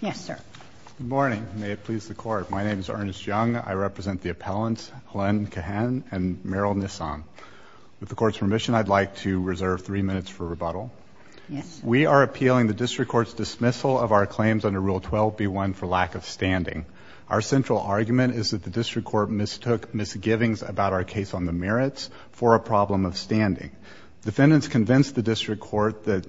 Yes, sir. Good morning. May it please the Court. My name is Ernest Young. I represent the appellants, Helene Cahen and Meryl Nissan. With the Court's permission, I'd like to reserve three minutes for rebuttal. We are appealing the District Court's dismissal of our claims under Rule 12b1 for lack of standing. Our central argument is that the District Court mistook misgivings about our case on the merits for a problem of standing. Defendants convinced the District Court that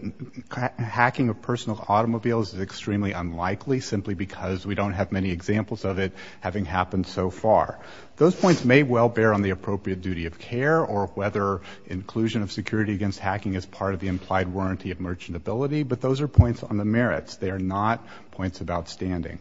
hacking of personal automobiles is extremely unlikely simply because we don't have many examples of it having happened so far. Those points may well bear on the appropriate duty of care or whether inclusion of security against hacking is part of the implied warranty of merchantability, but those are points on the merits. They are not points about standing.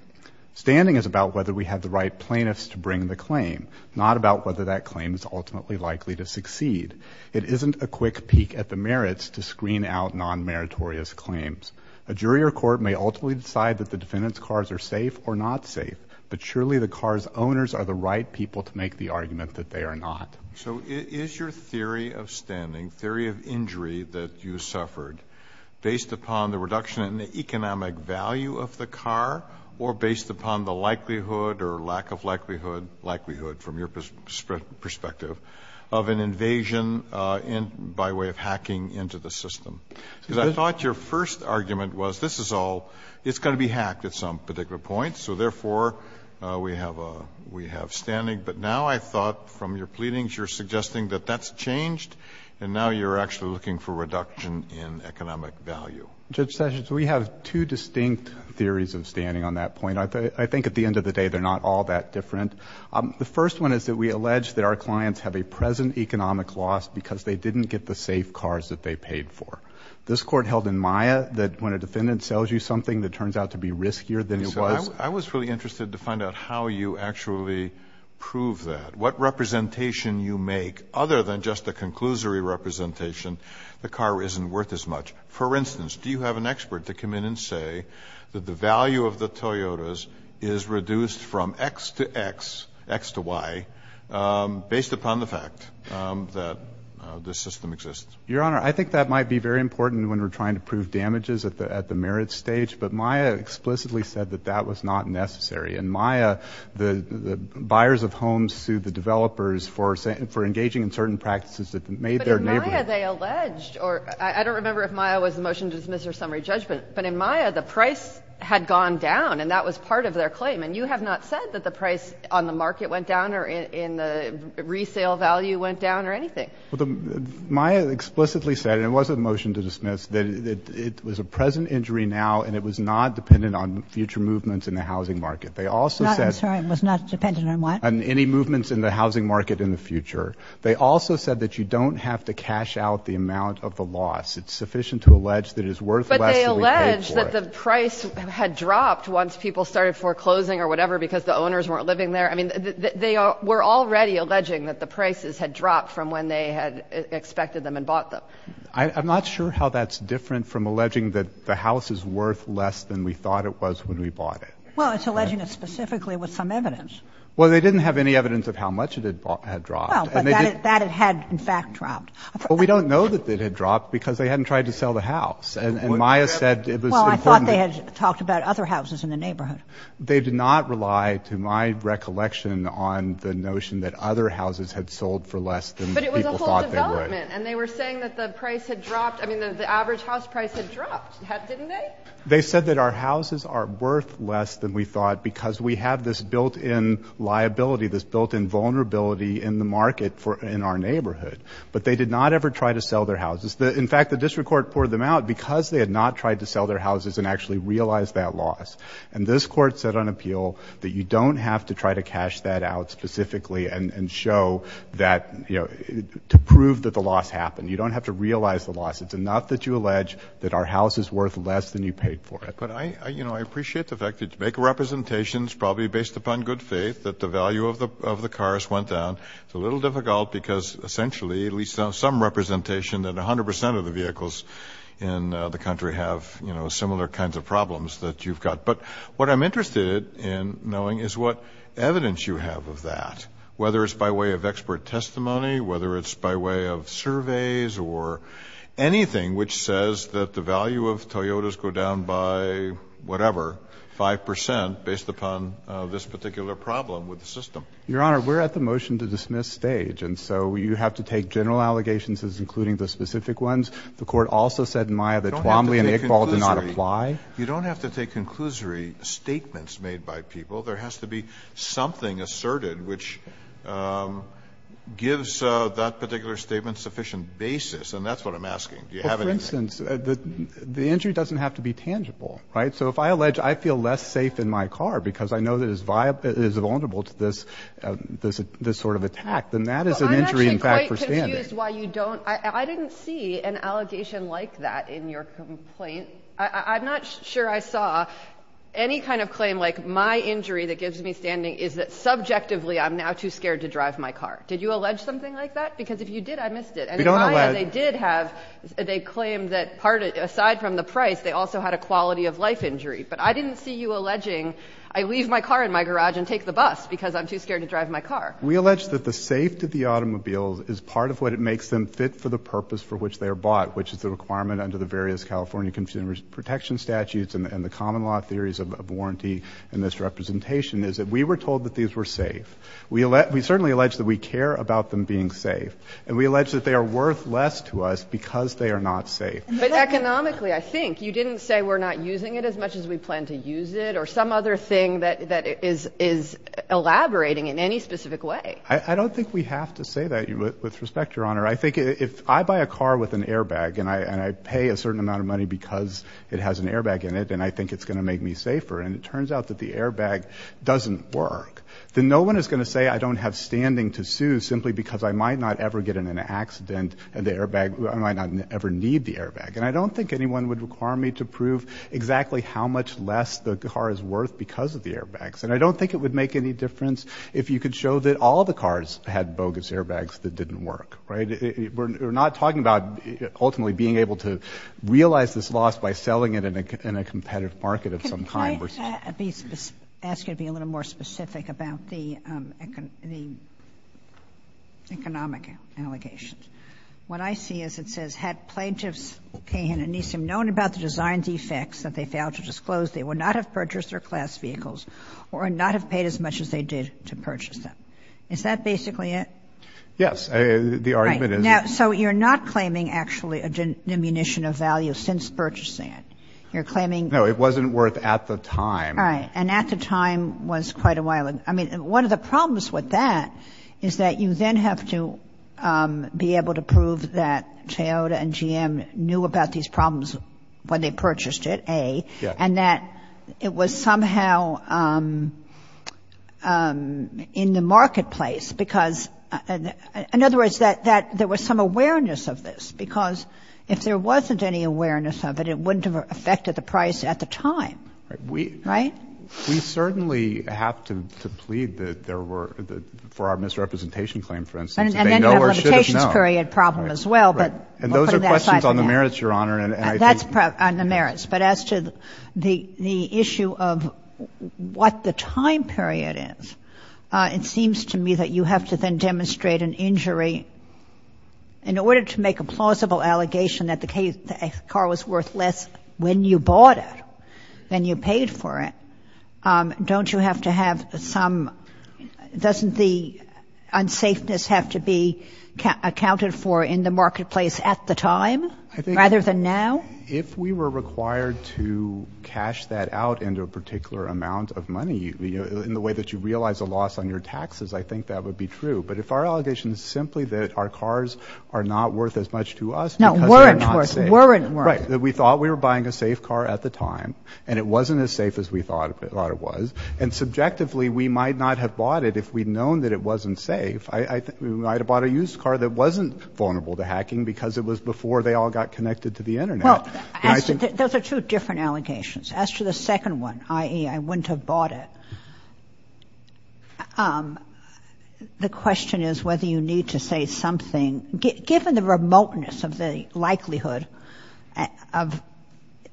Standing is about whether we have the right plaintiffs to bring the claim, not about whether that claim is ultimately likely to succeed. It isn't a quick peek at the merits to screen out non-meritorious claims. A jury or court may ultimately decide that the defendant's cars are safe or not safe, but surely the car's owners are the right people to make the argument that they are not. So is your theory of standing, theory of injury that you suffered, based upon the reduction in the economic value of the car or based upon the likelihood or lack of likelihood from your perspective of an invasion by way of hacking into the system? Because I thought your first argument was this is all, it's going to be hacked at some particular point, so therefore, we have standing. But now I thought from your pleadings you're suggesting that that's changed and now you're actually looking for reduction in economic value. Judge Sessions, we have two distinct theories of standing on that point. I think at the end of the day they're not all that different. The first one is that we allege that our clients have a present economic loss because they didn't get the safe cars that they paid for. This court held in Maya that when a defendant sells you something that turns out to be riskier than it was. I was really interested to find out how you actually prove that. What representation you make, other than just a conclusory representation, the car isn't worth as much. For instance, do you have an expert to come in and say that the value of the Toyotas is reduced from X to X, X to Y, based upon the fact that this system exists? Your Honor, I think that might be very important when we're trying to prove damages at the merit stage, but Maya explicitly said that that was not necessary. In Maya, the buyers of homes sued the developers for engaging in certain practices that made their neighbor. But in Maya they alleged, or I don't remember if Maya was the motion to dismiss or summary judgment, but in Maya the price had gone down, and that was part of their claim. And you have not said that the price on the market went down or in the resale value went down or anything. Well, Maya explicitly said, and it was a motion to dismiss, that it was a present injury now and it was not dependent on future movements in the housing market. They also said... Sorry, it was not dependent on what? Any movements in the housing market in the future. They also said that you don't have to cash out the amount of the loss. It's sufficient to allege that it is worth less than we paid for it. But they allege that the price had dropped once people started foreclosing or whatever because the owners weren't living there. I mean, they were already alleging that the prices had dropped from when they had expected them and bought them. I'm not sure how that's different from alleging that the house is worth less than we thought it was when we bought it. Well, it's alleging it specifically with some evidence. Well, they didn't have any evidence of how much it had dropped. Well, but that it had in fact dropped. Well, we don't know that it had dropped because they hadn't tried to sell the house. And Maya said it was important... Well, I thought they had talked about other houses in the neighborhood. They did not rely, to my recollection, on the notion that other houses had sold for less than people thought they would. But it was a whole development. And they were saying that the price had dropped, I mean, the average house price had dropped, didn't they? They said that our houses are worth less than we thought because we have this built-in liability, this built-in vulnerability in the market in our neighborhood. But they did not ever try to sell their houses. In fact, the district court poured them out because they had not tried to sell their houses and actually realized that loss. And this Court said on appeal that you don't have to try to cash that out specifically and show that, you know, to prove that the loss happened. You don't have to realize the loss. It's enough that you allege that our house is worth less than you paid for it. But I, you know, I appreciate the fact that to make representations, probably based upon good faith, that the value of the cars went down, it's a little difficult because essentially at least on some representation that 100% of the vehicles in the country have, you know, similar kinds of problems that you've got. But what I'm interested in knowing is what evidence you have of that, whether it's by way of expert testimony, whether it's by way of surveys or anything which says that the value of Toyotas go down by whatever, 5% based upon this particular problem with the system. Your Honor, we're at the motion to dismiss stage. And so you have to take general allegations as including the specific ones. The Court also said in Maya that Twombly and Iqbal did not apply. You don't have to take conclusory statements made by people. There has to be something asserted which gives that particular statement sufficient basis. And that's what I'm asking. Do you have anything? Well, for instance, the injury doesn't have to be tangible, right? So if I allege I feel less safe in my car because I know that it is vulnerable to this sort of attack, then that is an injury in fact for standing. I'm actually quite confused why you don't—I didn't see an allegation like that in your complaint. I'm not sure I saw any kind of claim like, my injury that gives me standing is that subjectively I'm now too scared to drive my car. Did you allege something like that? Because if you did, I missed it. We don't allege. And in Maya, they did have—they claimed that, aside from the price, they also had a quality of life injury. But I didn't see you alleging, I leave my car in my garage and take the bus because I'm too scared to drive my car. We allege that the safety of the automobiles is part of what it makes them fit for the purpose for which they are bought, which is the requirement under the various California consumer protection statutes and the common law theories of warranty and misrepresentation is that we were told that these were safe. We certainly allege that we care about them being safe. And we allege that they are worth less to us because they are not safe. But economically, I think, you didn't say we're not using it as much as we plan to use it or some other thing that is elaborating in any specific way. I don't think we have to say that, with respect, Your Honor. I think if I buy a car with an airbag and I pay a certain amount of money because it has an airbag in it and I think it's going to make me safer and it turns out that the airbag doesn't work, then no one is going to say I don't have standing to sue simply because I might not ever get in an accident and the airbag—I might not ever need the airbag. And I don't think anyone would require me to prove exactly how much less the car is worth because of the airbags. And I don't think it would make any difference if you could show that all the cars had bogus airbags that didn't work, right? We're not talking about ultimately being able to realize this loss by selling it in a competitive market of some kind. Can I ask you to be a little more specific about the economic allegations? What I see is it says, had plaintiffs known about the design defects that they failed to disclose, they would not have purchased their class vehicles or not have paid as much as they did to purchase them. Is that basically it? Yes. The argument is— Right. So you're not claiming actually a diminution of value since purchasing it. You're claiming— No. It wasn't worth at the time. Right. And at the time was quite a while. I mean, one of the problems with that is that you then have to be able to prove that Toyota and GM knew about these problems when they purchased it, A, and that it was somehow in the marketplace because—in other words, that there was some awareness of this because if there wasn't any awareness of it, it wouldn't have affected the price at the time. Right? We certainly have to plead that there were — for our misrepresentation claim, for instance. They know or should have known. And then you have a limitations period problem as well, but we'll put that aside for now. Right. And those are questions on the merits, Your Honor. And I think— That's on the merits. But as to the issue of what the time period is, it seems to me that you have to then demonstrate an injury. In order to make a plausible allegation that the car was worth less when you bought it than you paid for it, don't you have to have some—doesn't the unsafeness have to be accounted for in the marketplace at the time rather than now? If we were required to cash that out into a particular amount of money, you know, in the way that you realize a loss on your taxes, I think that would be true. But if our allegation is simply that our cars are not worth as much to us because they're not safe— No, weren't worth. Weren't worth. Right. That we thought we were buying a safe car at the time, and it wasn't as safe as we thought it was. And subjectively, we might not have bought it if we'd known that it wasn't safe. I think we might have bought a used car that wasn't vulnerable to hacking because it was before they all got connected to the Internet. Well, as to— Those are two different allegations. As to the second one, i.e., I wouldn't have bought it, the question is whether you need to say something, given the remoteness of the likelihood of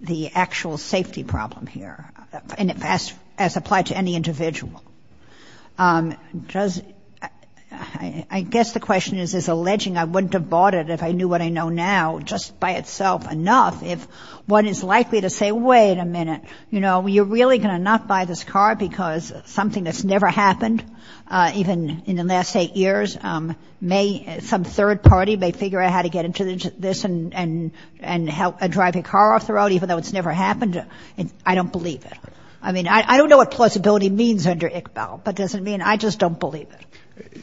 the actual safety problem here, as applied to any individual. I guess the question is, is alleging I wouldn't have bought it if I knew what I know now just by itself enough if one is likely to say, wait a minute, you know, you're really going to not buy this car because something that's never happened, even in the last eight years, may some third party may figure out how to get into this and drive your car off the road even though it's never happened. I don't believe it. I mean, I don't know what plausibility means under Iqbal, but does it mean I just don't believe it?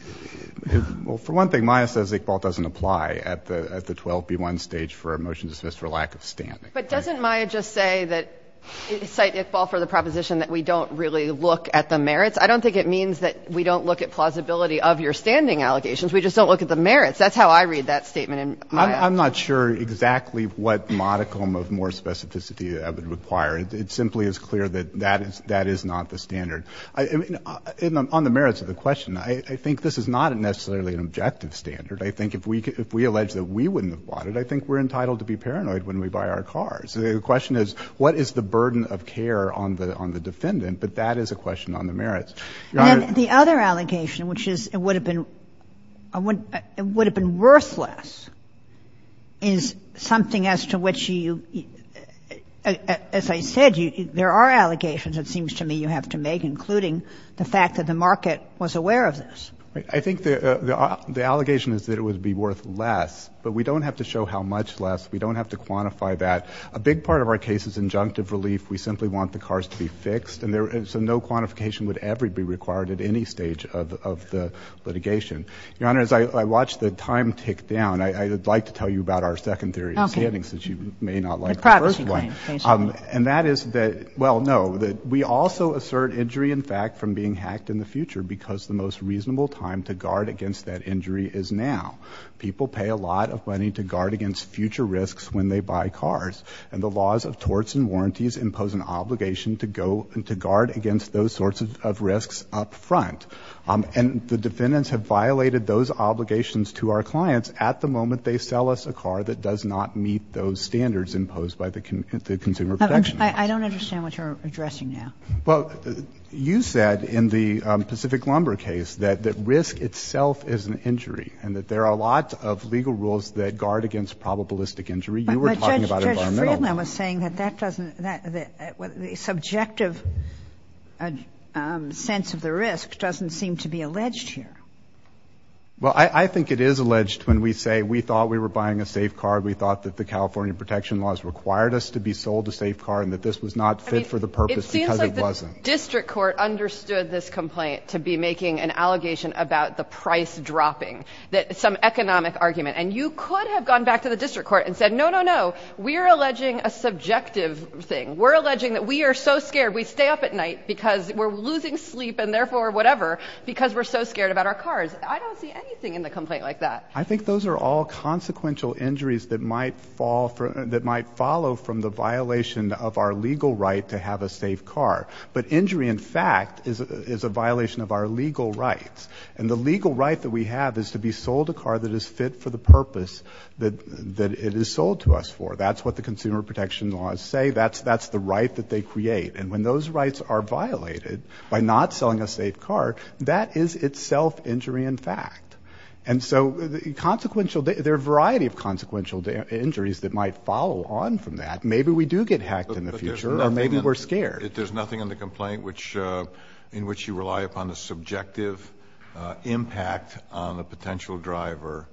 Well, for one thing, Maya says Iqbal doesn't apply at the 12B1 stage for a motion to dismiss for lack of standing. But doesn't Maya just say that, cite Iqbal for the proposition that we don't really look at the merits? I don't think it means that we don't look at plausibility of your standing allegations. We just don't look at the merits. That's how I read that statement in Maya. I'm not sure exactly what modicum of more specificity I would require. It simply is clear that that is not the standard. On the merits of the question, I think this is not necessarily an objective standard. I think if we allege that we wouldn't have bought it, I think we're entitled to be paranoid when we buy our cars. So the question is what is the burden of care on the defendant, but that is a question on the merits. Your Honor. And the other allegation, which is it would have been worthless, is something as to which you, as I said, there are allegations it seems to me you have to make, including the fact that the market was aware of this. I think the allegation is that it would be worth less, but we don't have to show how much less. We don't have to quantify that. A big part of our case is injunctive relief. We simply want the cars to be fixed, and so no quantification would ever be required at any stage of the litigation. Your Honor, as I watch the time tick down, I would like to tell you about our second theory of standing, since you may not like the first one. And that is that, well, no, that we also assert injury in fact from being hacked in the future because the most reasonable time to guard against that injury is now. People pay a lot of money to guard against future risks when they buy cars, and the laws of torts and warranties impose an obligation to go and to guard against those sorts of risks up front. And the defendants have violated those obligations to our clients at the moment they sell us a car that does not meet those standards imposed by the Consumer Protection Act. I don't understand what you're addressing now. Well, you said in the Pacific Lumber case that risk itself is an injury and that there are a lot of legal rules that guard against probabilistic injury. You were talking about environmental. But Judge Friedman was saying that the subjective sense of the risk doesn't seem to be alleged here. Well, I think it is alleged when we say we thought we were buying a safe car, we thought that the California protection laws required us to be sold a safe car, and that this was not fit for the purpose because it wasn't. I mean, it seems like the district court understood this complaint to be making an allegation about the price dropping, some economic argument. And you could have gone back to the district court and said, no, no, no, we're alleging a subjective thing. We're alleging that we are so scared we stay up at night because we're losing sleep and therefore whatever because we're so scared about our cars. I don't see anything in the complaint like that. I think those are all consequential injuries that might follow from the violation of our legal right to have a safe car. But injury in fact is a violation of our legal rights. And the legal right that we have is to be sold a car that is fit for the purpose that it is sold to us for. That's what the consumer protection laws say. That's the right that they create. And when those rights are violated by not selling a safe car, that is itself injury in fact. And so there are a variety of consequential injuries that might follow on from that. Maybe we do get hacked in the future or maybe we're scared. There's nothing in the complaint which in which you rely upon the subjective impact on a potential driver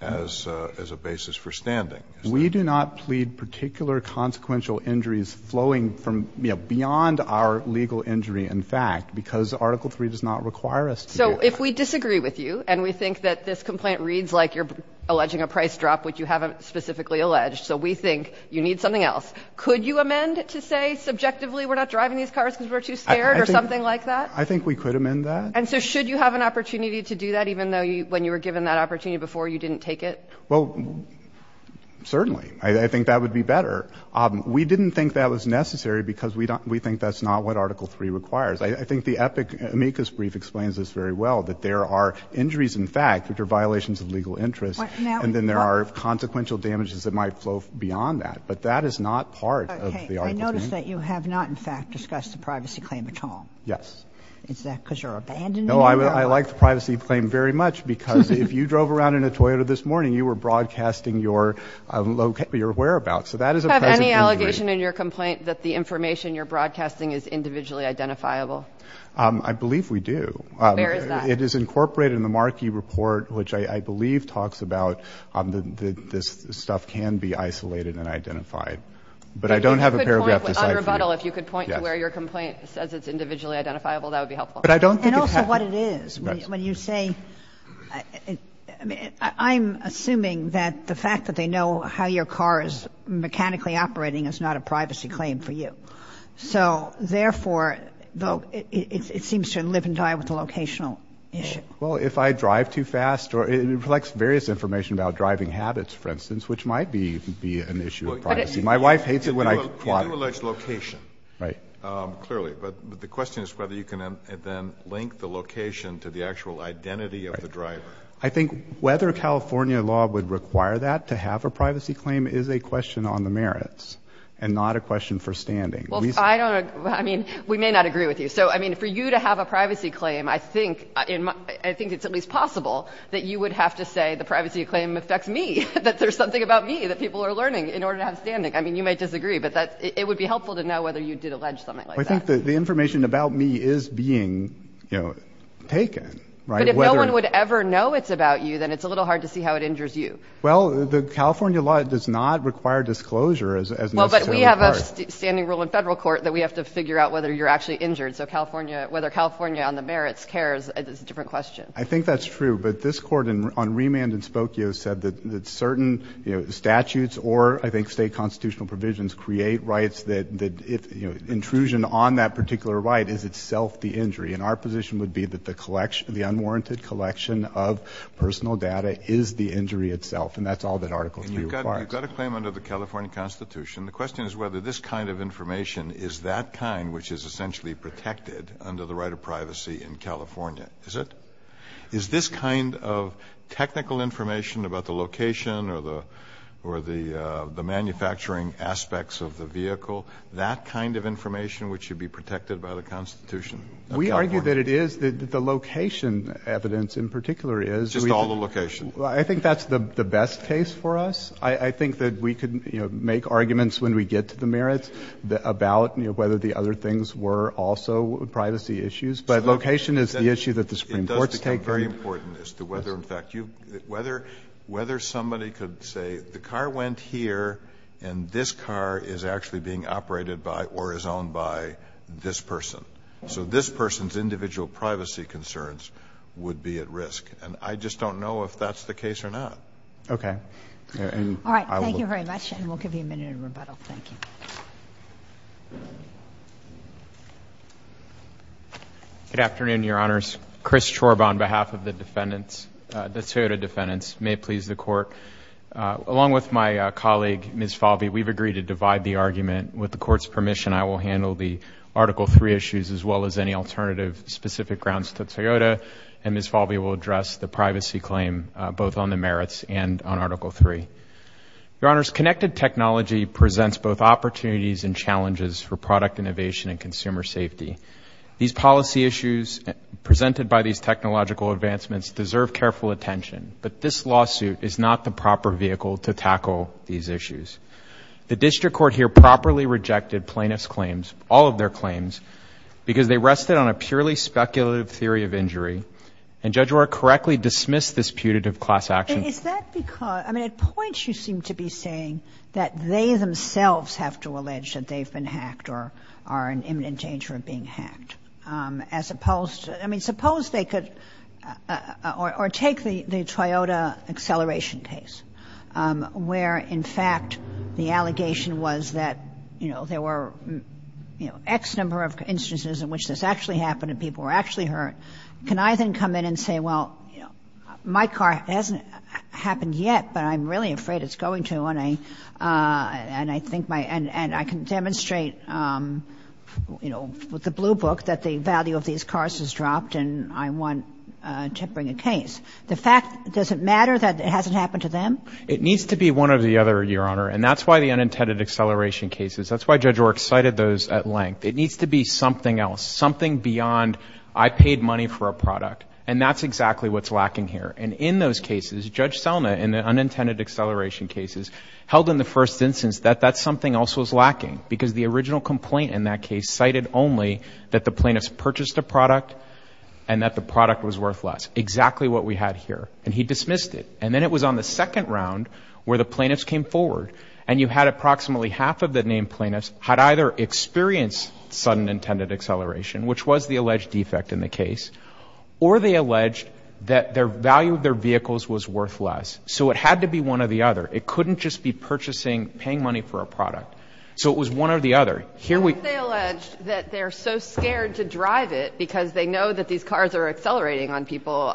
as a basis for standing. We do not plead particular consequential injuries flowing from beyond our legal injury in fact because Article III does not require us to do that. So if we disagree with you and we think that this complaint reads like you're alleging a price drop which you haven't specifically alleged, so we think you need something else. Could you amend to say subjectively we're not driving these cars because we're too scared or something like that? I think we could amend that. And so should you have an opportunity to do that even though when you were given that opportunity before you didn't take it? Well, certainly. I think that would be better. We didn't think that was necessary because we think that's not what Article III requires. I think the EPIC amicus brief explains this very well, that there are injuries in fact, which are violations of legal interest, and then there are consequential damages that might flow beyond that. But that is not part of the Article III. Okay. I notice that you have not in fact discussed the privacy claim at all. Yes. Is that because you're abandoning it? No, I like the privacy claim very much because if you drove around in a Toyota this morning, you were broadcasting your whereabouts. So that is a present injury. Do you have any allegation in your complaint that the information you're broadcasting is individually identifiable? I believe we do. Where is that? It is incorporated in the Markey Report, which I believe talks about that this stuff can be isolated and identified. But I don't have a paragraph to cite for you. On rebuttal, if you could point to where your complaint says it's individually identifiable, that would be helpful. But I don't think it has. And also what it is. When you say, I'm assuming that the fact that they know how your car is mechanically operating is not a privacy claim for you. So therefore, it seems to live and die with the locational issue. Well, if I drive too fast or it reflects various information about driving habits, for instance, which might be an issue of privacy. My wife hates it when I plot. You do allege location. Right. Clearly. But the question is whether you can then link the location to the actual identity of the driver. I think whether California law would require that to have a privacy claim is a question on the merits and not a question for standing. Well, I don't know. I mean, we may not agree with you. So, I mean, for you to have a privacy claim, I think it's at least possible that you would have to say the privacy claim affects me, that there's something about me that people are learning in order to have standing. I mean, you might disagree, but it would be helpful to know whether you did allege something like that. I think that the information about me is being taken, right? But if no one would ever know it's about you, then it's a little hard to see how it injures you. Well, the California law does not require disclosure as. Well, but we have a standing rule in federal court that we have to figure out whether you're actually injured. So California, whether California on the merits cares is a different question. I think that's true. But this court on remand in Spokio said that certain statutes or I think state constitutional provisions create rights that if intrusion on that particular right is itself the injury. And our position would be that the unwarranted collection of personal data is the injury itself. And that's all that Article 3 requires. You've got a claim under the California Constitution. The question is whether this kind of information is that kind which is essentially protected under the right of privacy in California. Is it? Is that kind of technical information about the location or the manufacturing aspects of the vehicle, that kind of information which should be protected by the Constitution? We argue that it is. The location evidence in particular is. Just all the location. I think that's the best case for us. I think that we could make arguments when we get to the merits about whether the other things were also privacy issues. But location is the issue that the Supreme Court's taking. Very important as to whether, in fact, whether somebody could say the car went here and this car is actually being operated by or is owned by this person. So this person's individual privacy concerns would be at risk. And I just don't know if that's the case or not. Okay. All right. Thank you very much. And we'll give you a minute in rebuttal. Thank you. Good afternoon, Your Honors. Chris Chorb on behalf of the defendants, the Toyota defendants. May it please the Court. Along with my colleague, Ms. Falvey, we've agreed to divide the argument. With the Court's permission, I will handle the Article III issues as well as any alternative specific grounds to Toyota. And Ms. Falvey will address the privacy claim both on the merits and on Article III. Your Honors, connected technology presents both opportunities and challenges for product innovation and consumer safety. These policy issues presented by these technological advancements deserve careful attention, but this lawsuit is not the proper vehicle to tackle these issues. The district court here properly rejected plaintiff's claims, all of their claims, because they rested on a purely speculative theory of injury. And Judge Orr correctly dismissed this putative class action. Is that because, I mean, at points you seem to be saying that they themselves have to allege that they've been hacked or are in imminent danger of being hacked. As opposed, I mean, suppose they could, or take the Toyota acceleration case, where, in fact, the allegation was that there were X number of instances in which this actually happened and people were actually hurt, can I then come in and say, well, my car hasn't happened yet, but I'm really afraid it's going to. And I think my, and I can demonstrate with the blue book, that the value of these cars has dropped and I want to bring a case. The fact, does it matter that it hasn't happened to them? It needs to be one or the other, Your Honor. And that's why the unintended acceleration cases, that's why Judge Orr cited those at length. It needs to be something else, something beyond I paid money for a product. And that's exactly what's lacking here. And in those cases, Judge Selma, in the unintended acceleration cases, held in the first instance that that's something else was lacking. Because the original complaint in that case cited only that the plaintiffs purchased a product and that the product was worthless. Exactly what we had here, and he dismissed it. And then it was on the second round where the plaintiffs came forward. And you had approximately half of the named plaintiffs had either experienced sudden intended acceleration, which was the alleged defect in the case. Or they alleged that their value of their vehicles was worthless. So it had to be one or the other. It couldn't just be purchasing, paying money for a product. So it was one or the other. Here we- They allege that they're so scared to drive it because they know that these cars are accelerating on people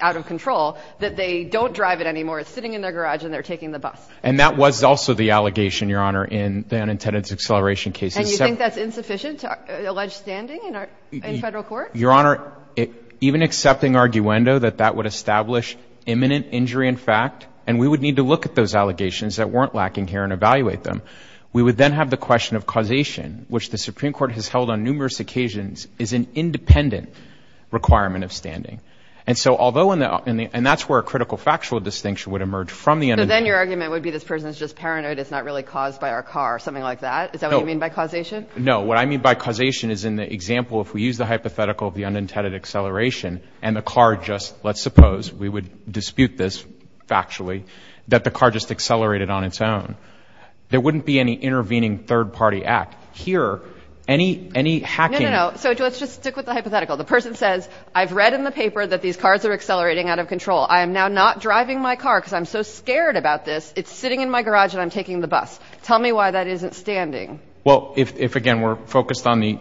out of control that they don't drive it anymore. It's sitting in their garage and they're taking the bus. And that was also the allegation, Your Honor, in the unintended acceleration case. And you think that's insufficient to allege standing in federal court? Your Honor, even accepting arguendo that that would establish imminent injury in fact, and we would need to look at those allegations that weren't lacking here and evaluate them, we would then have the question of causation, which the Supreme Court has held on numerous occasions, is an independent requirement of standing. And so although, and that's where a critical factual distinction would emerge from the- So then your argument would be this person is just paranoid, it's not really caused by our car or something like that? Is that what you mean by causation? No, what I mean by causation is in the example, if we use the hypothetical of the unintended acceleration and the car just, let's suppose, we would dispute this factually, that the car just accelerated on its own. There wouldn't be any intervening third party act here, any hacking. No, no, no, so let's just stick with the hypothetical. The person says, I've read in the paper that these cars are accelerating out of control. I am now not driving my car because I'm so scared about this. It's sitting in my garage and I'm taking the bus. Tell me why that isn't standing. Well, if, again, we're focused on the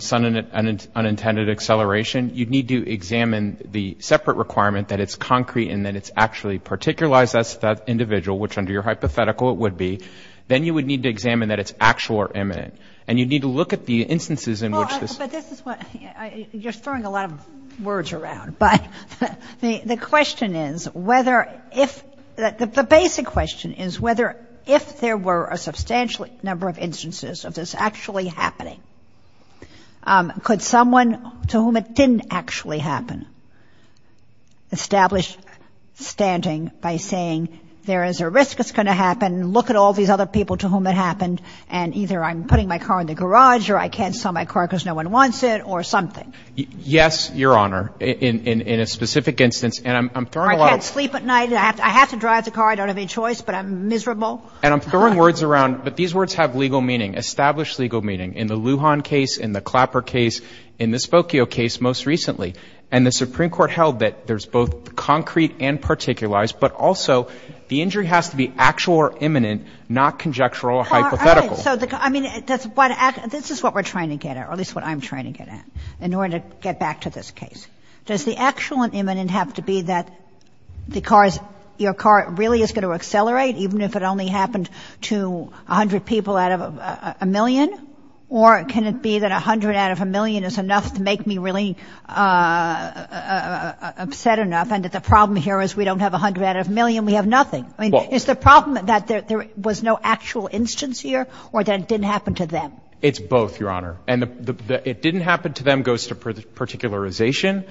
unintended acceleration, you'd need to examine the separate requirement that it's concrete and that it's actually particularized as that individual, which under your hypothetical it would be. Then you would need to examine that it's actual or imminent. And you'd need to look at the instances in which this- But this is what, you're throwing a lot of words around. But the question is whether if, the basic question is whether if there were a substantial number of instances of this actually happening, could someone to whom it didn't actually happen establish standing by saying, there is a risk it's going to happen, look at all these other people to whom it happened, and either I'm putting my car in the garage or I can't sell my car because no one wants it or something. Yes, Your Honor, in a specific instance, and I'm throwing a lot of- Or I can't sleep at night, I have to drive the car, I don't have any choice, but I'm miserable. And I'm throwing words around, but these words have legal meaning, established legal meaning in the Lujan case, in the Clapper case, in the Spokio case most recently. And the Supreme Court held that there's both concrete and particularized, but also the injury has to be actual or imminent, not conjectural or hypothetical. So, I mean, that's what, this is what we're trying to get at, or at least what I'm trying to get at in order to get back to this case. Does the actual and imminent have to be that the car is, your car really is going to accelerate, even if it only happened to 100 people out of a million? Or can it be that 100 out of a million is enough to make me really upset enough, and that the problem here is we don't have 100 out of a million, we have nothing? I mean, is the problem that there was no actual instance here or that it didn't happen to them? It's both, Your Honor. And the, it didn't happen to them goes to particularization,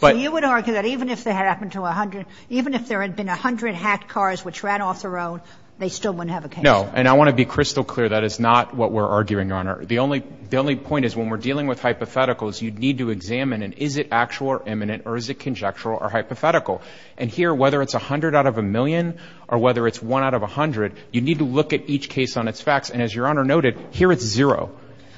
but- So you would argue that even if they had happened to 100, even if there had been 100 hacked cars which ran off their own, they still wouldn't have a case? No. And I want to be crystal clear, that is not what we're arguing, Your Honor. The only, the only point is when we're dealing with hypotheticals, you need to examine, and is it actual or imminent, or is it conjectural or hypothetical? And here, whether it's 100 out of a million, or whether it's 1 out of 100, you need to look at each case on its facts. And as Your Honor noted, here it's zero.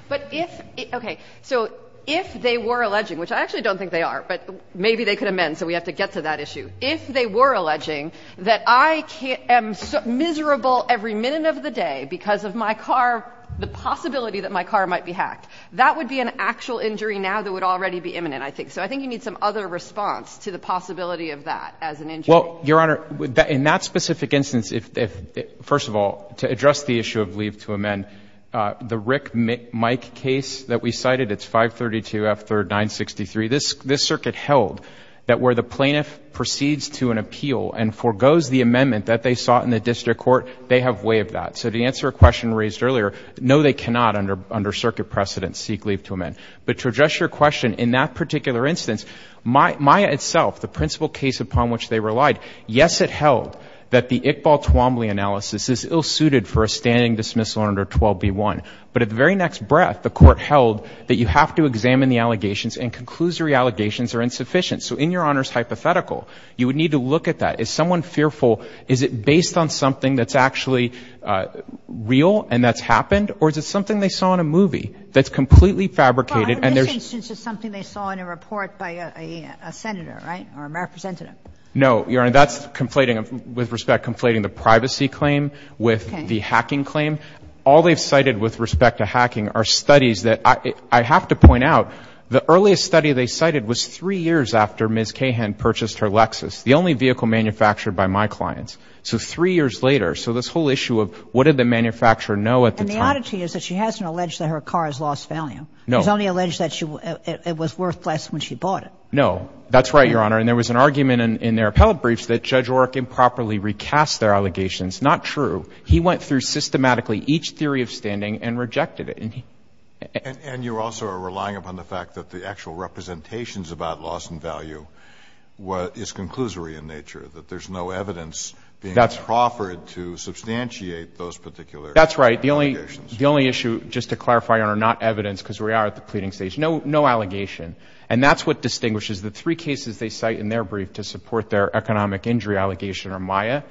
But if, okay, so if they were alleging, which I actually don't think they are, but maybe they could amend, so we have to get to that issue. If they were alleging that I am miserable every minute of the day because of my car, the possibility that my car might be hacked, that would be an actual injury now that would already be imminent, I think. So I think you need some other response to the possibility of that as an injury. Well, Your Honor, in that specific instance, if, first of all, to address the issue of leave to amend, the Rick Mike case that we cited, it's 532 F 3rd 963, this circuit held that where the plaintiff proceeds to an appeal and forgoes the amendment that they sought in the district court, they have way of that. So to answer a question raised earlier, no, they cannot, under circuit precedent, seek leave to amend. But to address your question, in that particular instance, Maya itself, the principal case upon which they relied, yes, it held that the Iqbal Twombly analysis is ill-suited for a standing dismissal under 12B1. But at the very next breath, the court held that you have to examine the allegations and conclusory allegations are insufficient. So in Your Honor's hypothetical, you would need to look at that. Is someone fearful? Is it based on something that's actually real and that's happened? Or is it something they saw in a movie that's completely fabricated and there's- Well, in this instance, it's something they saw in a report by a senator, right? Or a representative. No, Your Honor, that's conflating, with respect, conflating the privacy claim with the hacking claim. All they've cited with respect to hacking are studies that I have to point out, the earliest study they cited was three years after Ms. Cahan purchased her Lexus, the only vehicle manufactured by my clients. So three years later. So this whole issue of what did the manufacturer know at the time- And the oddity is that she hasn't alleged that her car has lost value. No. She's only alleged that it was worth less when she bought it. No. That's right, Your Honor. And there was an argument in their appellate briefs that Judge Orrick improperly recast their allegations. Not true. He went through systematically each theory of standing and rejected it. And you also are relying upon the fact that the actual representations about loss and value is conclusory in nature. That there's no evidence being proffered to substantiate those particular allegations. That's right, the only issue, just to clarify, Your Honor, not evidence, because we are at the pleading stage, no allegation. And that's what distinguishes the three cases they cite in their brief to support their economic injury allegation are Maya,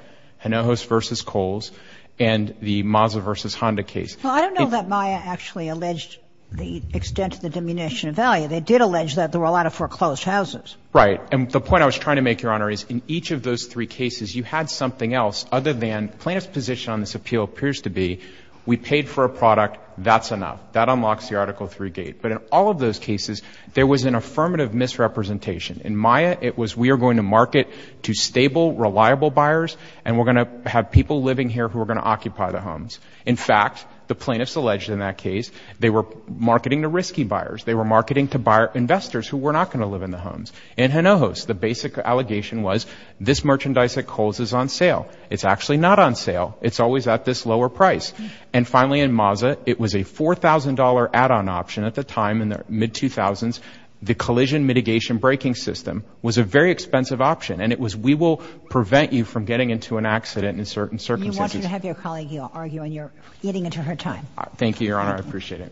Hinojos v. Coles, and the Mazda v. Honda case. Well, I don't know that Maya actually alleged the extent of the diminution of value. They did allege that there were a lot of foreclosed houses. Right, and the point I was trying to make, Your Honor, is in each of those three cases, you had something else other than plaintiff's position on this appeal appears to be. We paid for a product, that's enough. That unlocks the Article III gate. But in all of those cases, there was an affirmative misrepresentation. In Maya, it was we are going to market to stable, reliable buyers. And we're going to have people living here who are going to occupy the homes. In fact, the plaintiffs alleged in that case, they were marketing to risky buyers. They were marketing to investors who were not going to live in the homes. In Hinojos, the basic allegation was, this merchandise at Coles is on sale. It's actually not on sale. It's always at this lower price. And finally, in Mazda, it was a $4,000 add-on option at the time in the mid-2000s. The collision mitigation braking system was a very expensive option, and it was we will prevent you from getting into an accident in certain circumstances. If you want to have your colleague, you'll argue and you're eating into her time. Thank you, Your Honor. I appreciate it.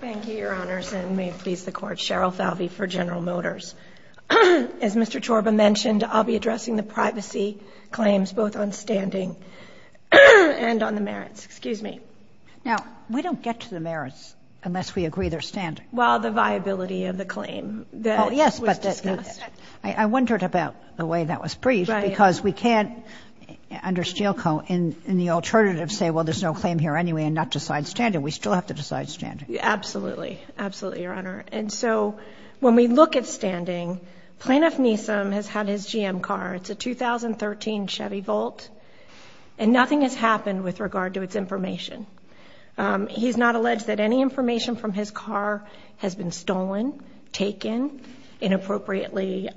Thank you, Your Honors, and may it please the Court. Cheryl Falvey for General Motors. As Mr. Chorba mentioned, I'll be addressing the privacy claims, both on standing and on the merits. Excuse me. Now, we don't get to the merits unless we agree they're standard. Well, the viability of the claim that was discussed. I wondered about the way that was briefed, because we can't, under Steel Co., in the alternative, say, well, there's no claim here anyway, and not decide standard. We still have to decide standard. Absolutely. Absolutely, Your Honor. And so, when we look at standing, Plaintiff Neeson has had his GM car. It's a 2013 Chevy Volt, and nothing has happened with regard to its information. He's not alleged that any information from his car has been stolen, taken, inappropriately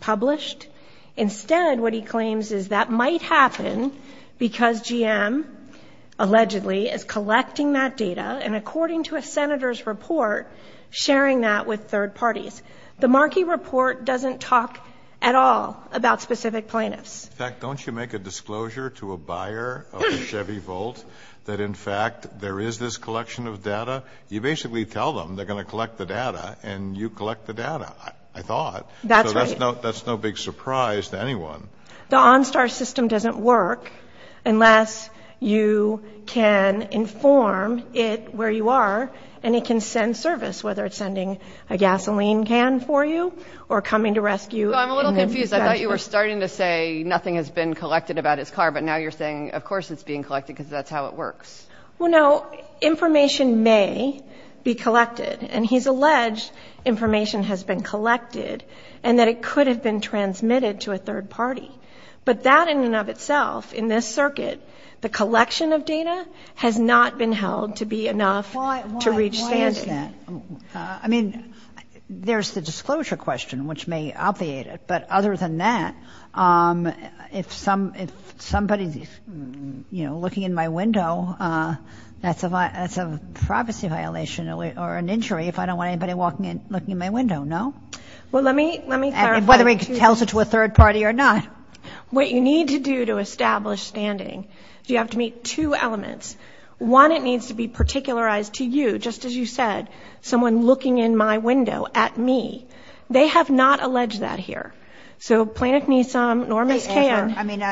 published. Instead, what he claims is that might happen because GM, allegedly, is collecting that data, and according to a senator's report, sharing that with third parties. The Markey report doesn't talk at all about specific plaintiffs. In fact, don't you make a disclosure to a buyer of a Chevy Volt that, in fact, there is this collection of data? You basically tell them they're going to collect the data, and you collect the data, I thought. That's right. That's no big surprise to anyone. The OnStar system doesn't work unless you can inform it where you are, and it can send service, whether it's sending a gasoline can for you, or coming to rescue. Well, I'm a little confused. I thought you were starting to say nothing has been collected about his car, but now you're saying, of course it's being collected, because that's how it works. Well, no. Information may be collected, and he's alleged information has been collected, and that it could have been transmitted to a third party. But that, in and of itself, in this circuit, the collection of data has not been held to be enough to reach standing. Why is that? I mean, there's the disclosure question, which may obviate it, but other than that, if somebody's looking in my window, that's a privacy violation or an injury if I don't want anybody looking in my window, no? Well, let me clarify. Whether he tells it to a third party or not. What you need to do to establish standing is you have to meet two elements. One, it needs to be particularized to you, just as you said, someone looking in my window at me. They have not alleged that here. So Planet Nisam, Norma's can. I mean,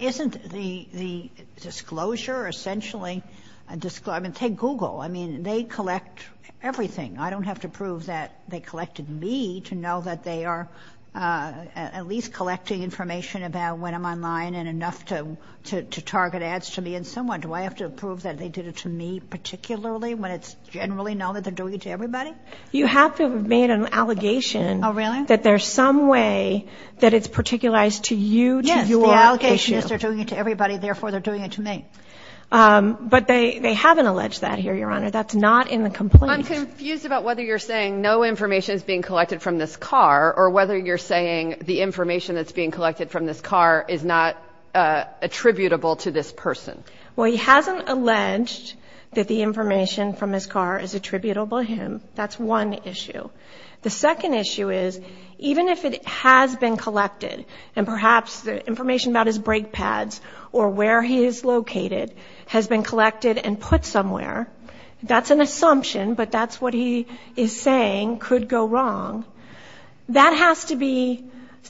isn't the disclosure essentially, I mean, take Google. I mean, they collect everything. I don't have to prove that they collected me to know that they are at least collecting information about when I'm online and enough to target ads to me. And someone, do I have to prove that they did it to me particularly, when it's generally known that they're doing it to everybody? You have to have made an allegation. Really? That there's some way that it's particularized to you. Yes, the allegations are doing it to everybody. Therefore, they're doing it to me. But they haven't alleged that here, Your Honor. That's not in the complaint. I'm confused about whether you're saying no information is being collected from this car or whether you're saying the information that's being collected from this car is not attributable to this person. Well, he hasn't alleged that the information from his car is attributable to him. That's one issue. The second issue is, even if it has been collected and perhaps the information about his brake pads or where he is located has been collected and put somewhere. That's an assumption, but that's what he is saying could go wrong. That has to be,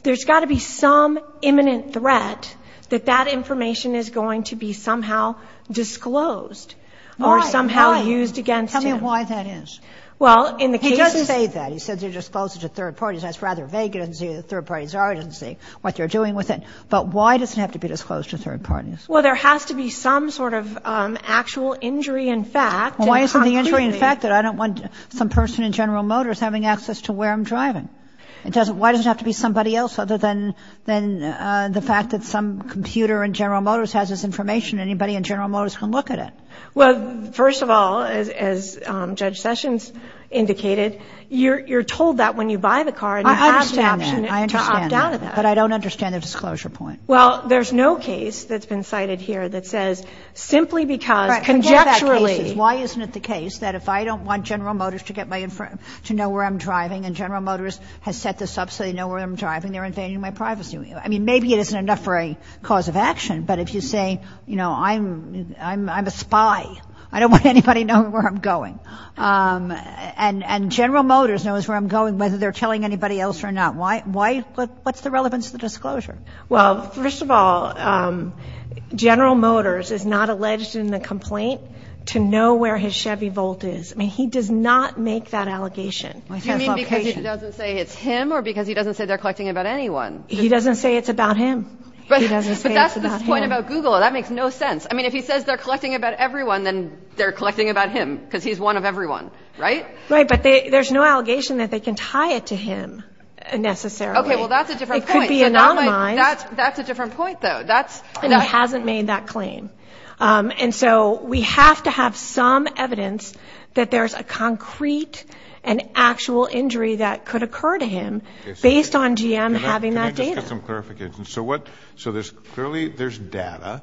there's got to be some imminent threat that that information is going to be somehow disclosed or somehow used against him. Tell me why that is. He doesn't say that. He says they're disclosed to third parties. That's rather vague to see what third parties are. He doesn't say what they're doing with it. But why does it have to be disclosed to third parties? Well, there has to be some sort of actual injury in fact. Well, why isn't the injury in fact that I don't want some person in General Motors having access to where I'm driving? It doesn't, why does it have to be somebody else other than the fact that some computer in General Motors has this information, anybody in General Motors can look at it? Well, first of all, as Judge Sessions indicated, you're told that when you buy the car and you have the option to opt out of that. But I don't understand the disclosure point. Well, there's no case that's been cited here that says simply because conjecturally. Why isn't it the case that if I don't want General Motors to know where I'm driving and General Motors has set this up so they know where I'm driving, they're invading my privacy. I mean, maybe it isn't enough for a cause of action. But if you say, you know, I'm a spy, I don't want anybody knowing where I'm going. And General Motors knows where I'm going, whether they're telling anybody else or not. Why, what's the relevance of the disclosure? Well, first of all, General Motors is not alleged in the complaint to know where his Chevy Volt is. I mean, he does not make that allegation. Do you mean because he doesn't say it's him or because he doesn't say they're collecting it about anyone? He doesn't say it's about him. But that's the point about Google. That makes no sense. I mean, if he says they're collecting about everyone, then they're collecting about him because he's one of everyone, right? Right, but there's no allegation that they can tie it to him necessarily. Okay, well, that's a different point. It could be anonymized. That's a different point, though. That's... And he hasn't made that claim. And so we have to have some evidence that there's a concrete and actual injury that could occur to him based on GM having that data. Can I just get some clarification? So there's clearly, there's data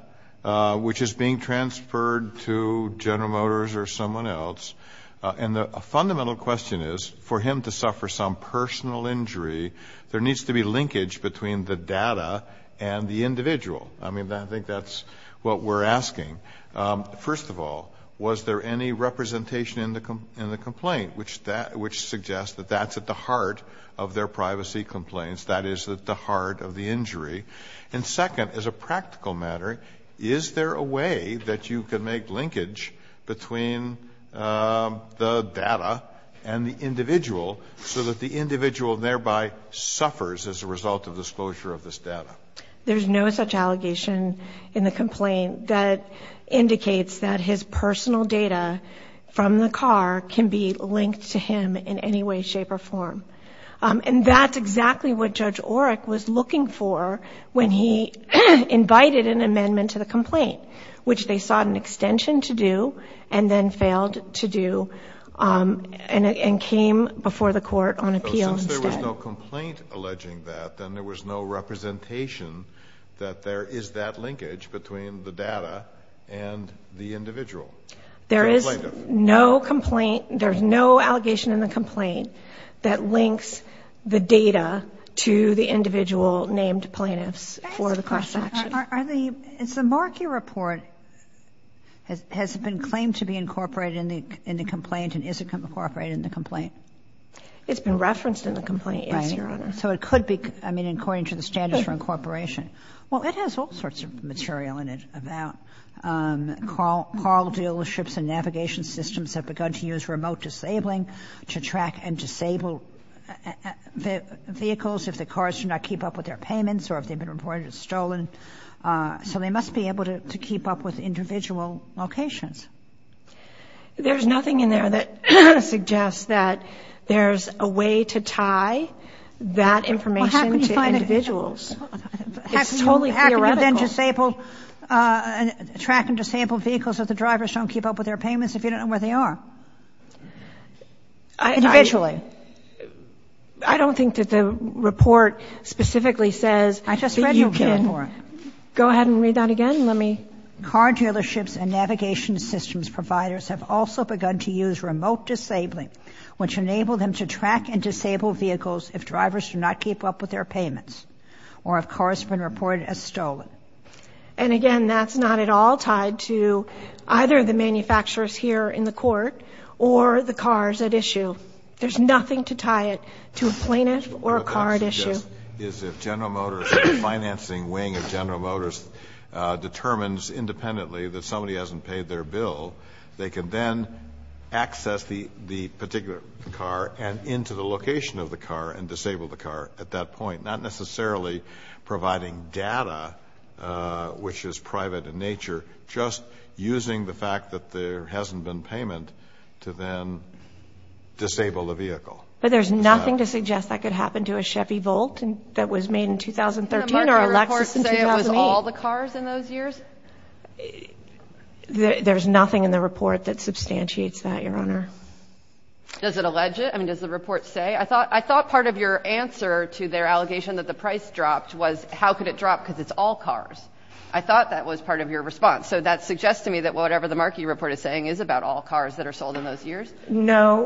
which is being transferred to General Motors or someone else, and a fundamental question is for him to suffer some personal injury, there needs to be linkage between the data and the individual. I mean, I think that's what we're asking. First of all, was there any representation in the complaint which suggests that that's at the heart of their privacy complaints, that is at the heart of the injury? And second, as a practical matter, is there a way that you can make linkage between the data and the individual so that the individual thereby suffers as a result of disclosure of this data? There's no such allegation in the complaint that indicates that his personal data from the car can be linked to him in any way, shape, or form. And that's exactly what Judge Oreck was looking for when he invited an amendment to the complaint, which they sought an extension to do, and then failed to do, and came before the court on appeal instead. So since there was no complaint alleging that, then there was no representation that there is that linkage between the data and the individual? There is no complaint, there's no allegation in the complaint that links the data to the individual named plaintiffs for the cross-section. Is the Markey Report, has it been claimed to be incorporated in the complaint, and is it incorporated in the complaint? It's been referenced in the complaint, yes, Your Honor. So it could be, I mean, according to the standards for incorporation. Well, it has all sorts of material in it about car dealerships and disabled vehicles, if the cars do not keep up with their payments, or if they've been reported as stolen. So they must be able to keep up with individual locations. There's nothing in there that suggests that there's a way to tie that information to individuals. It's totally theoretical. How can you then track and disable vehicles if the drivers don't keep up with their payments if you don't know where they are? Individually. I don't think that the report specifically says that you can. I just read the report. Go ahead and read that again, let me. Car dealerships and navigation systems providers have also begun to use remote disabling, which enable them to track and disable vehicles if drivers do not keep up with their payments, or if cars have been reported as stolen. And again, that's not at all tied to either the manufacturers here in the court, or the cars at issue. There's nothing to tie it to a plaintiff or a car at issue. Is if General Motors, the financing wing of General Motors, determines independently that somebody hasn't paid their bill, they can then access the particular car and into the location of the car and disable the car at that point. Not necessarily providing data, which is private in nature, just using the fact that there hasn't been payment to then disable the vehicle. But there's nothing to suggest that could happen to a Chevy Volt that was made in 2013 or a Lexus in 2008. Didn't the market report say it was all the cars in those years? There's nothing in the report that substantiates that, Your Honor. Does it allege it? I mean, does the report say? I thought part of your answer to their allegation that the price dropped was, how could it drop because it's all cars? I thought that was part of your response. So that suggests to me that whatever the market report is saying is about all cars that are sold in those years? No,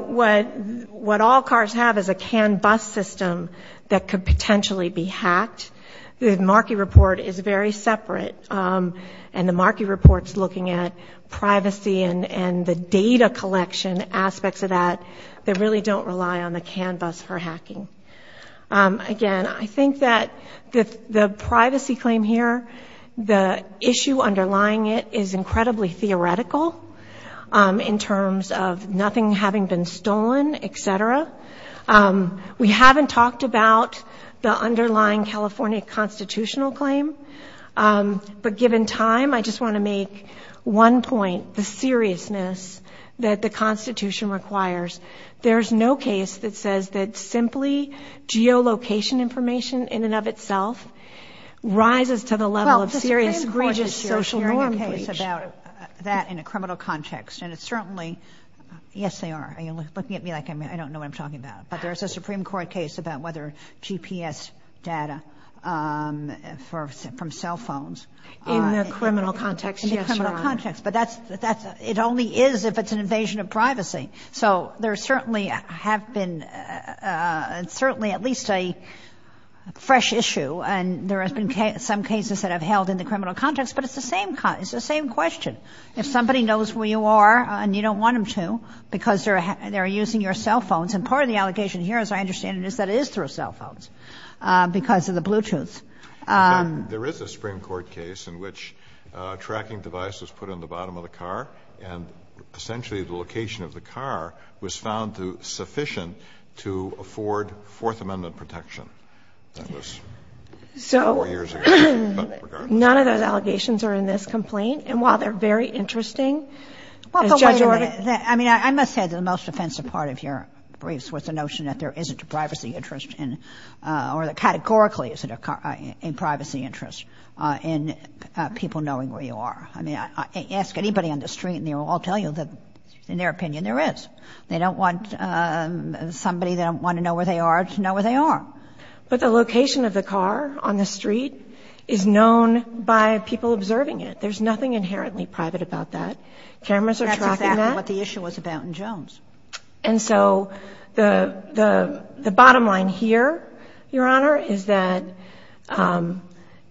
what all cars have is a canned bus system that could potentially be hacked. The market report is very separate. And the market report's looking at privacy and the data collection aspects of that that really don't rely on the canned bus for hacking. Again, I think that the privacy claim here, the issue underlying it is incredibly theoretical in terms of nothing having been stolen, etc. We haven't talked about the underlying California constitutional claim. But given time, I just want to make one point, the seriousness that the Constitution requires. There's no case that says that simply geolocation information in and of itself rises to the level of serious egregious social norm breach. Well, the Supreme Court is hearing a case about that in a criminal context. And it's certainly, yes, they are. Are you looking at me like I don't know what I'm talking about? But there's a Supreme Court case about whether GPS data from cell phones. In the criminal context, yes, Your Honor. In the criminal context. But it only is if it's an invasion of privacy. So there certainly have been, certainly at least a fresh issue. And there has been some cases that have held in the criminal context. But it's the same question. If somebody knows where you are, and you don't want them to, because they're using your cell phones. And part of the allegation here, as I understand it, is that it is through cell phones because of the Bluetooth. There is a Supreme Court case in which a tracking device was put on the bottom of the car, and essentially the location of the car was found sufficient to afford Fourth Amendment protection. That was four years ago, but regardless. None of those allegations are in this complaint. And while they're very interesting, the judge ordered- I mean, I must say that the most offensive part of your briefs was the notion that there isn't a privacy interest in, or that categorically, isn't a privacy interest in people knowing where you are. I mean, I ask anybody on the street, and they will all tell you that, in their opinion, there is. They don't want somebody that don't want to know where they are to know where they are. But the location of the car on the street is known by people observing it. There's nothing inherently private about that. Cameras are tracking that. That's exactly what the issue was about in Jones. And so the bottom line here, Your Honor, is that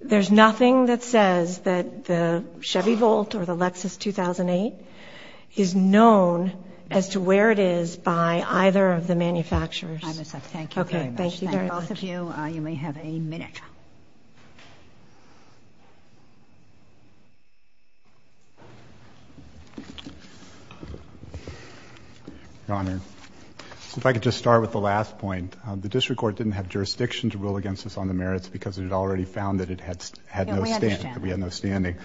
there's nothing that says that the Chevy Volt or the Lexus 2008 is known as to where it is by either of the manufacturers. I'm assertive. Thank you very much. Okay. Thank you very much. Thank both of you. You may have a minute. Your Honor, if I could just start with the last point. The district court didn't have jurisdiction to rule against us on the merits because it had already found that it had no standing. We understand. We had no standing.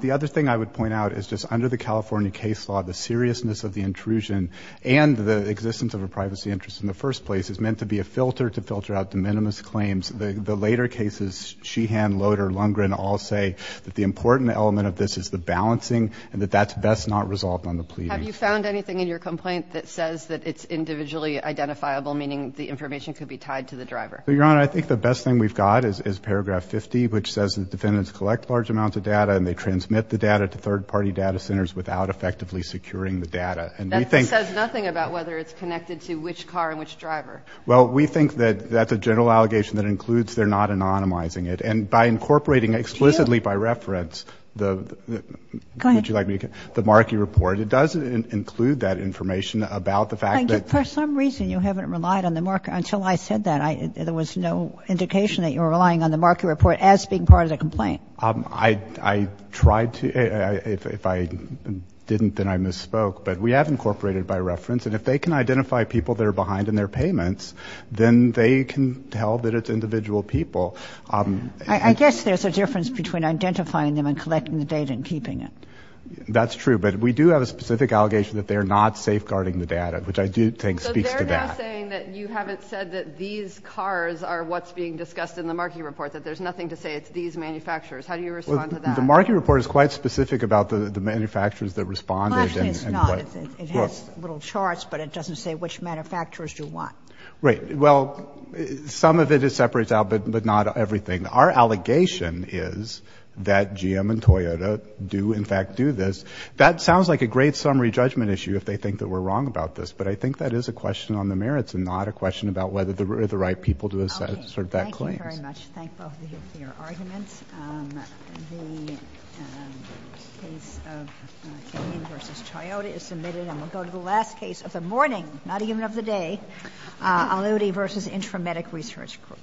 The other thing I would point out is just under the California case law, the seriousness of the intrusion and the existence of a privacy interest in the first place is meant to be a filter to filter out the minimus claims. The later cases, Sheehan, Loader, Lundgren, all say that the important element of this is the balancing and that that's best not resolved on the plea. Have you found anything in your complaint that says that it's individually identifiable, meaning the information could be tied to the driver? Your Honor, I think the best thing we've got is paragraph 50, which says that defendants collect large amounts of data and they transmit the data to third party data centers without effectively securing the data. And we think- That says nothing about whether it's connected to which car and which driver. Well, we think that that's a general allegation that includes they're not anonymizing it. And by incorporating explicitly by reference the- Go ahead. Would you like me to get the Markey report? It does include that information about the fact that- For some reason, you haven't relied on the Markey, until I said that, there was no indication that you were relying on the Markey report as being part of the complaint. I tried to, if I didn't, then I misspoke. But we have incorporated by reference. And if they can identify people that are behind in their payments, then they can tell that it's individual people. I guess there's a difference between identifying them and collecting the data and keeping it. That's true, but we do have a specific allegation that they're not safeguarding the data, which I do think speaks to that. So they're now saying that you haven't said that these cars are what's being discussed in the Markey report, that there's nothing to say it's these manufacturers. How do you respond to that? The Markey report is quite specific about the manufacturers that responded and what- Well, actually it's not. It has little charts, but it doesn't say which manufacturers do what. Right, well, some of it is separated out, but not everything. Our allegation is that GM and Toyota do, in fact, do this. That sounds like a great summary judgment issue if they think that we're wrong about this. But I think that is a question on the merits and not a question about whether they're the right people to assert that claim. Okay, thank you very much. Thank both of you for your arguments. The case of King versus Toyota is submitted. And we'll go to the last case of the morning, not even of the day, Aloudi versus Intramedic Research Group.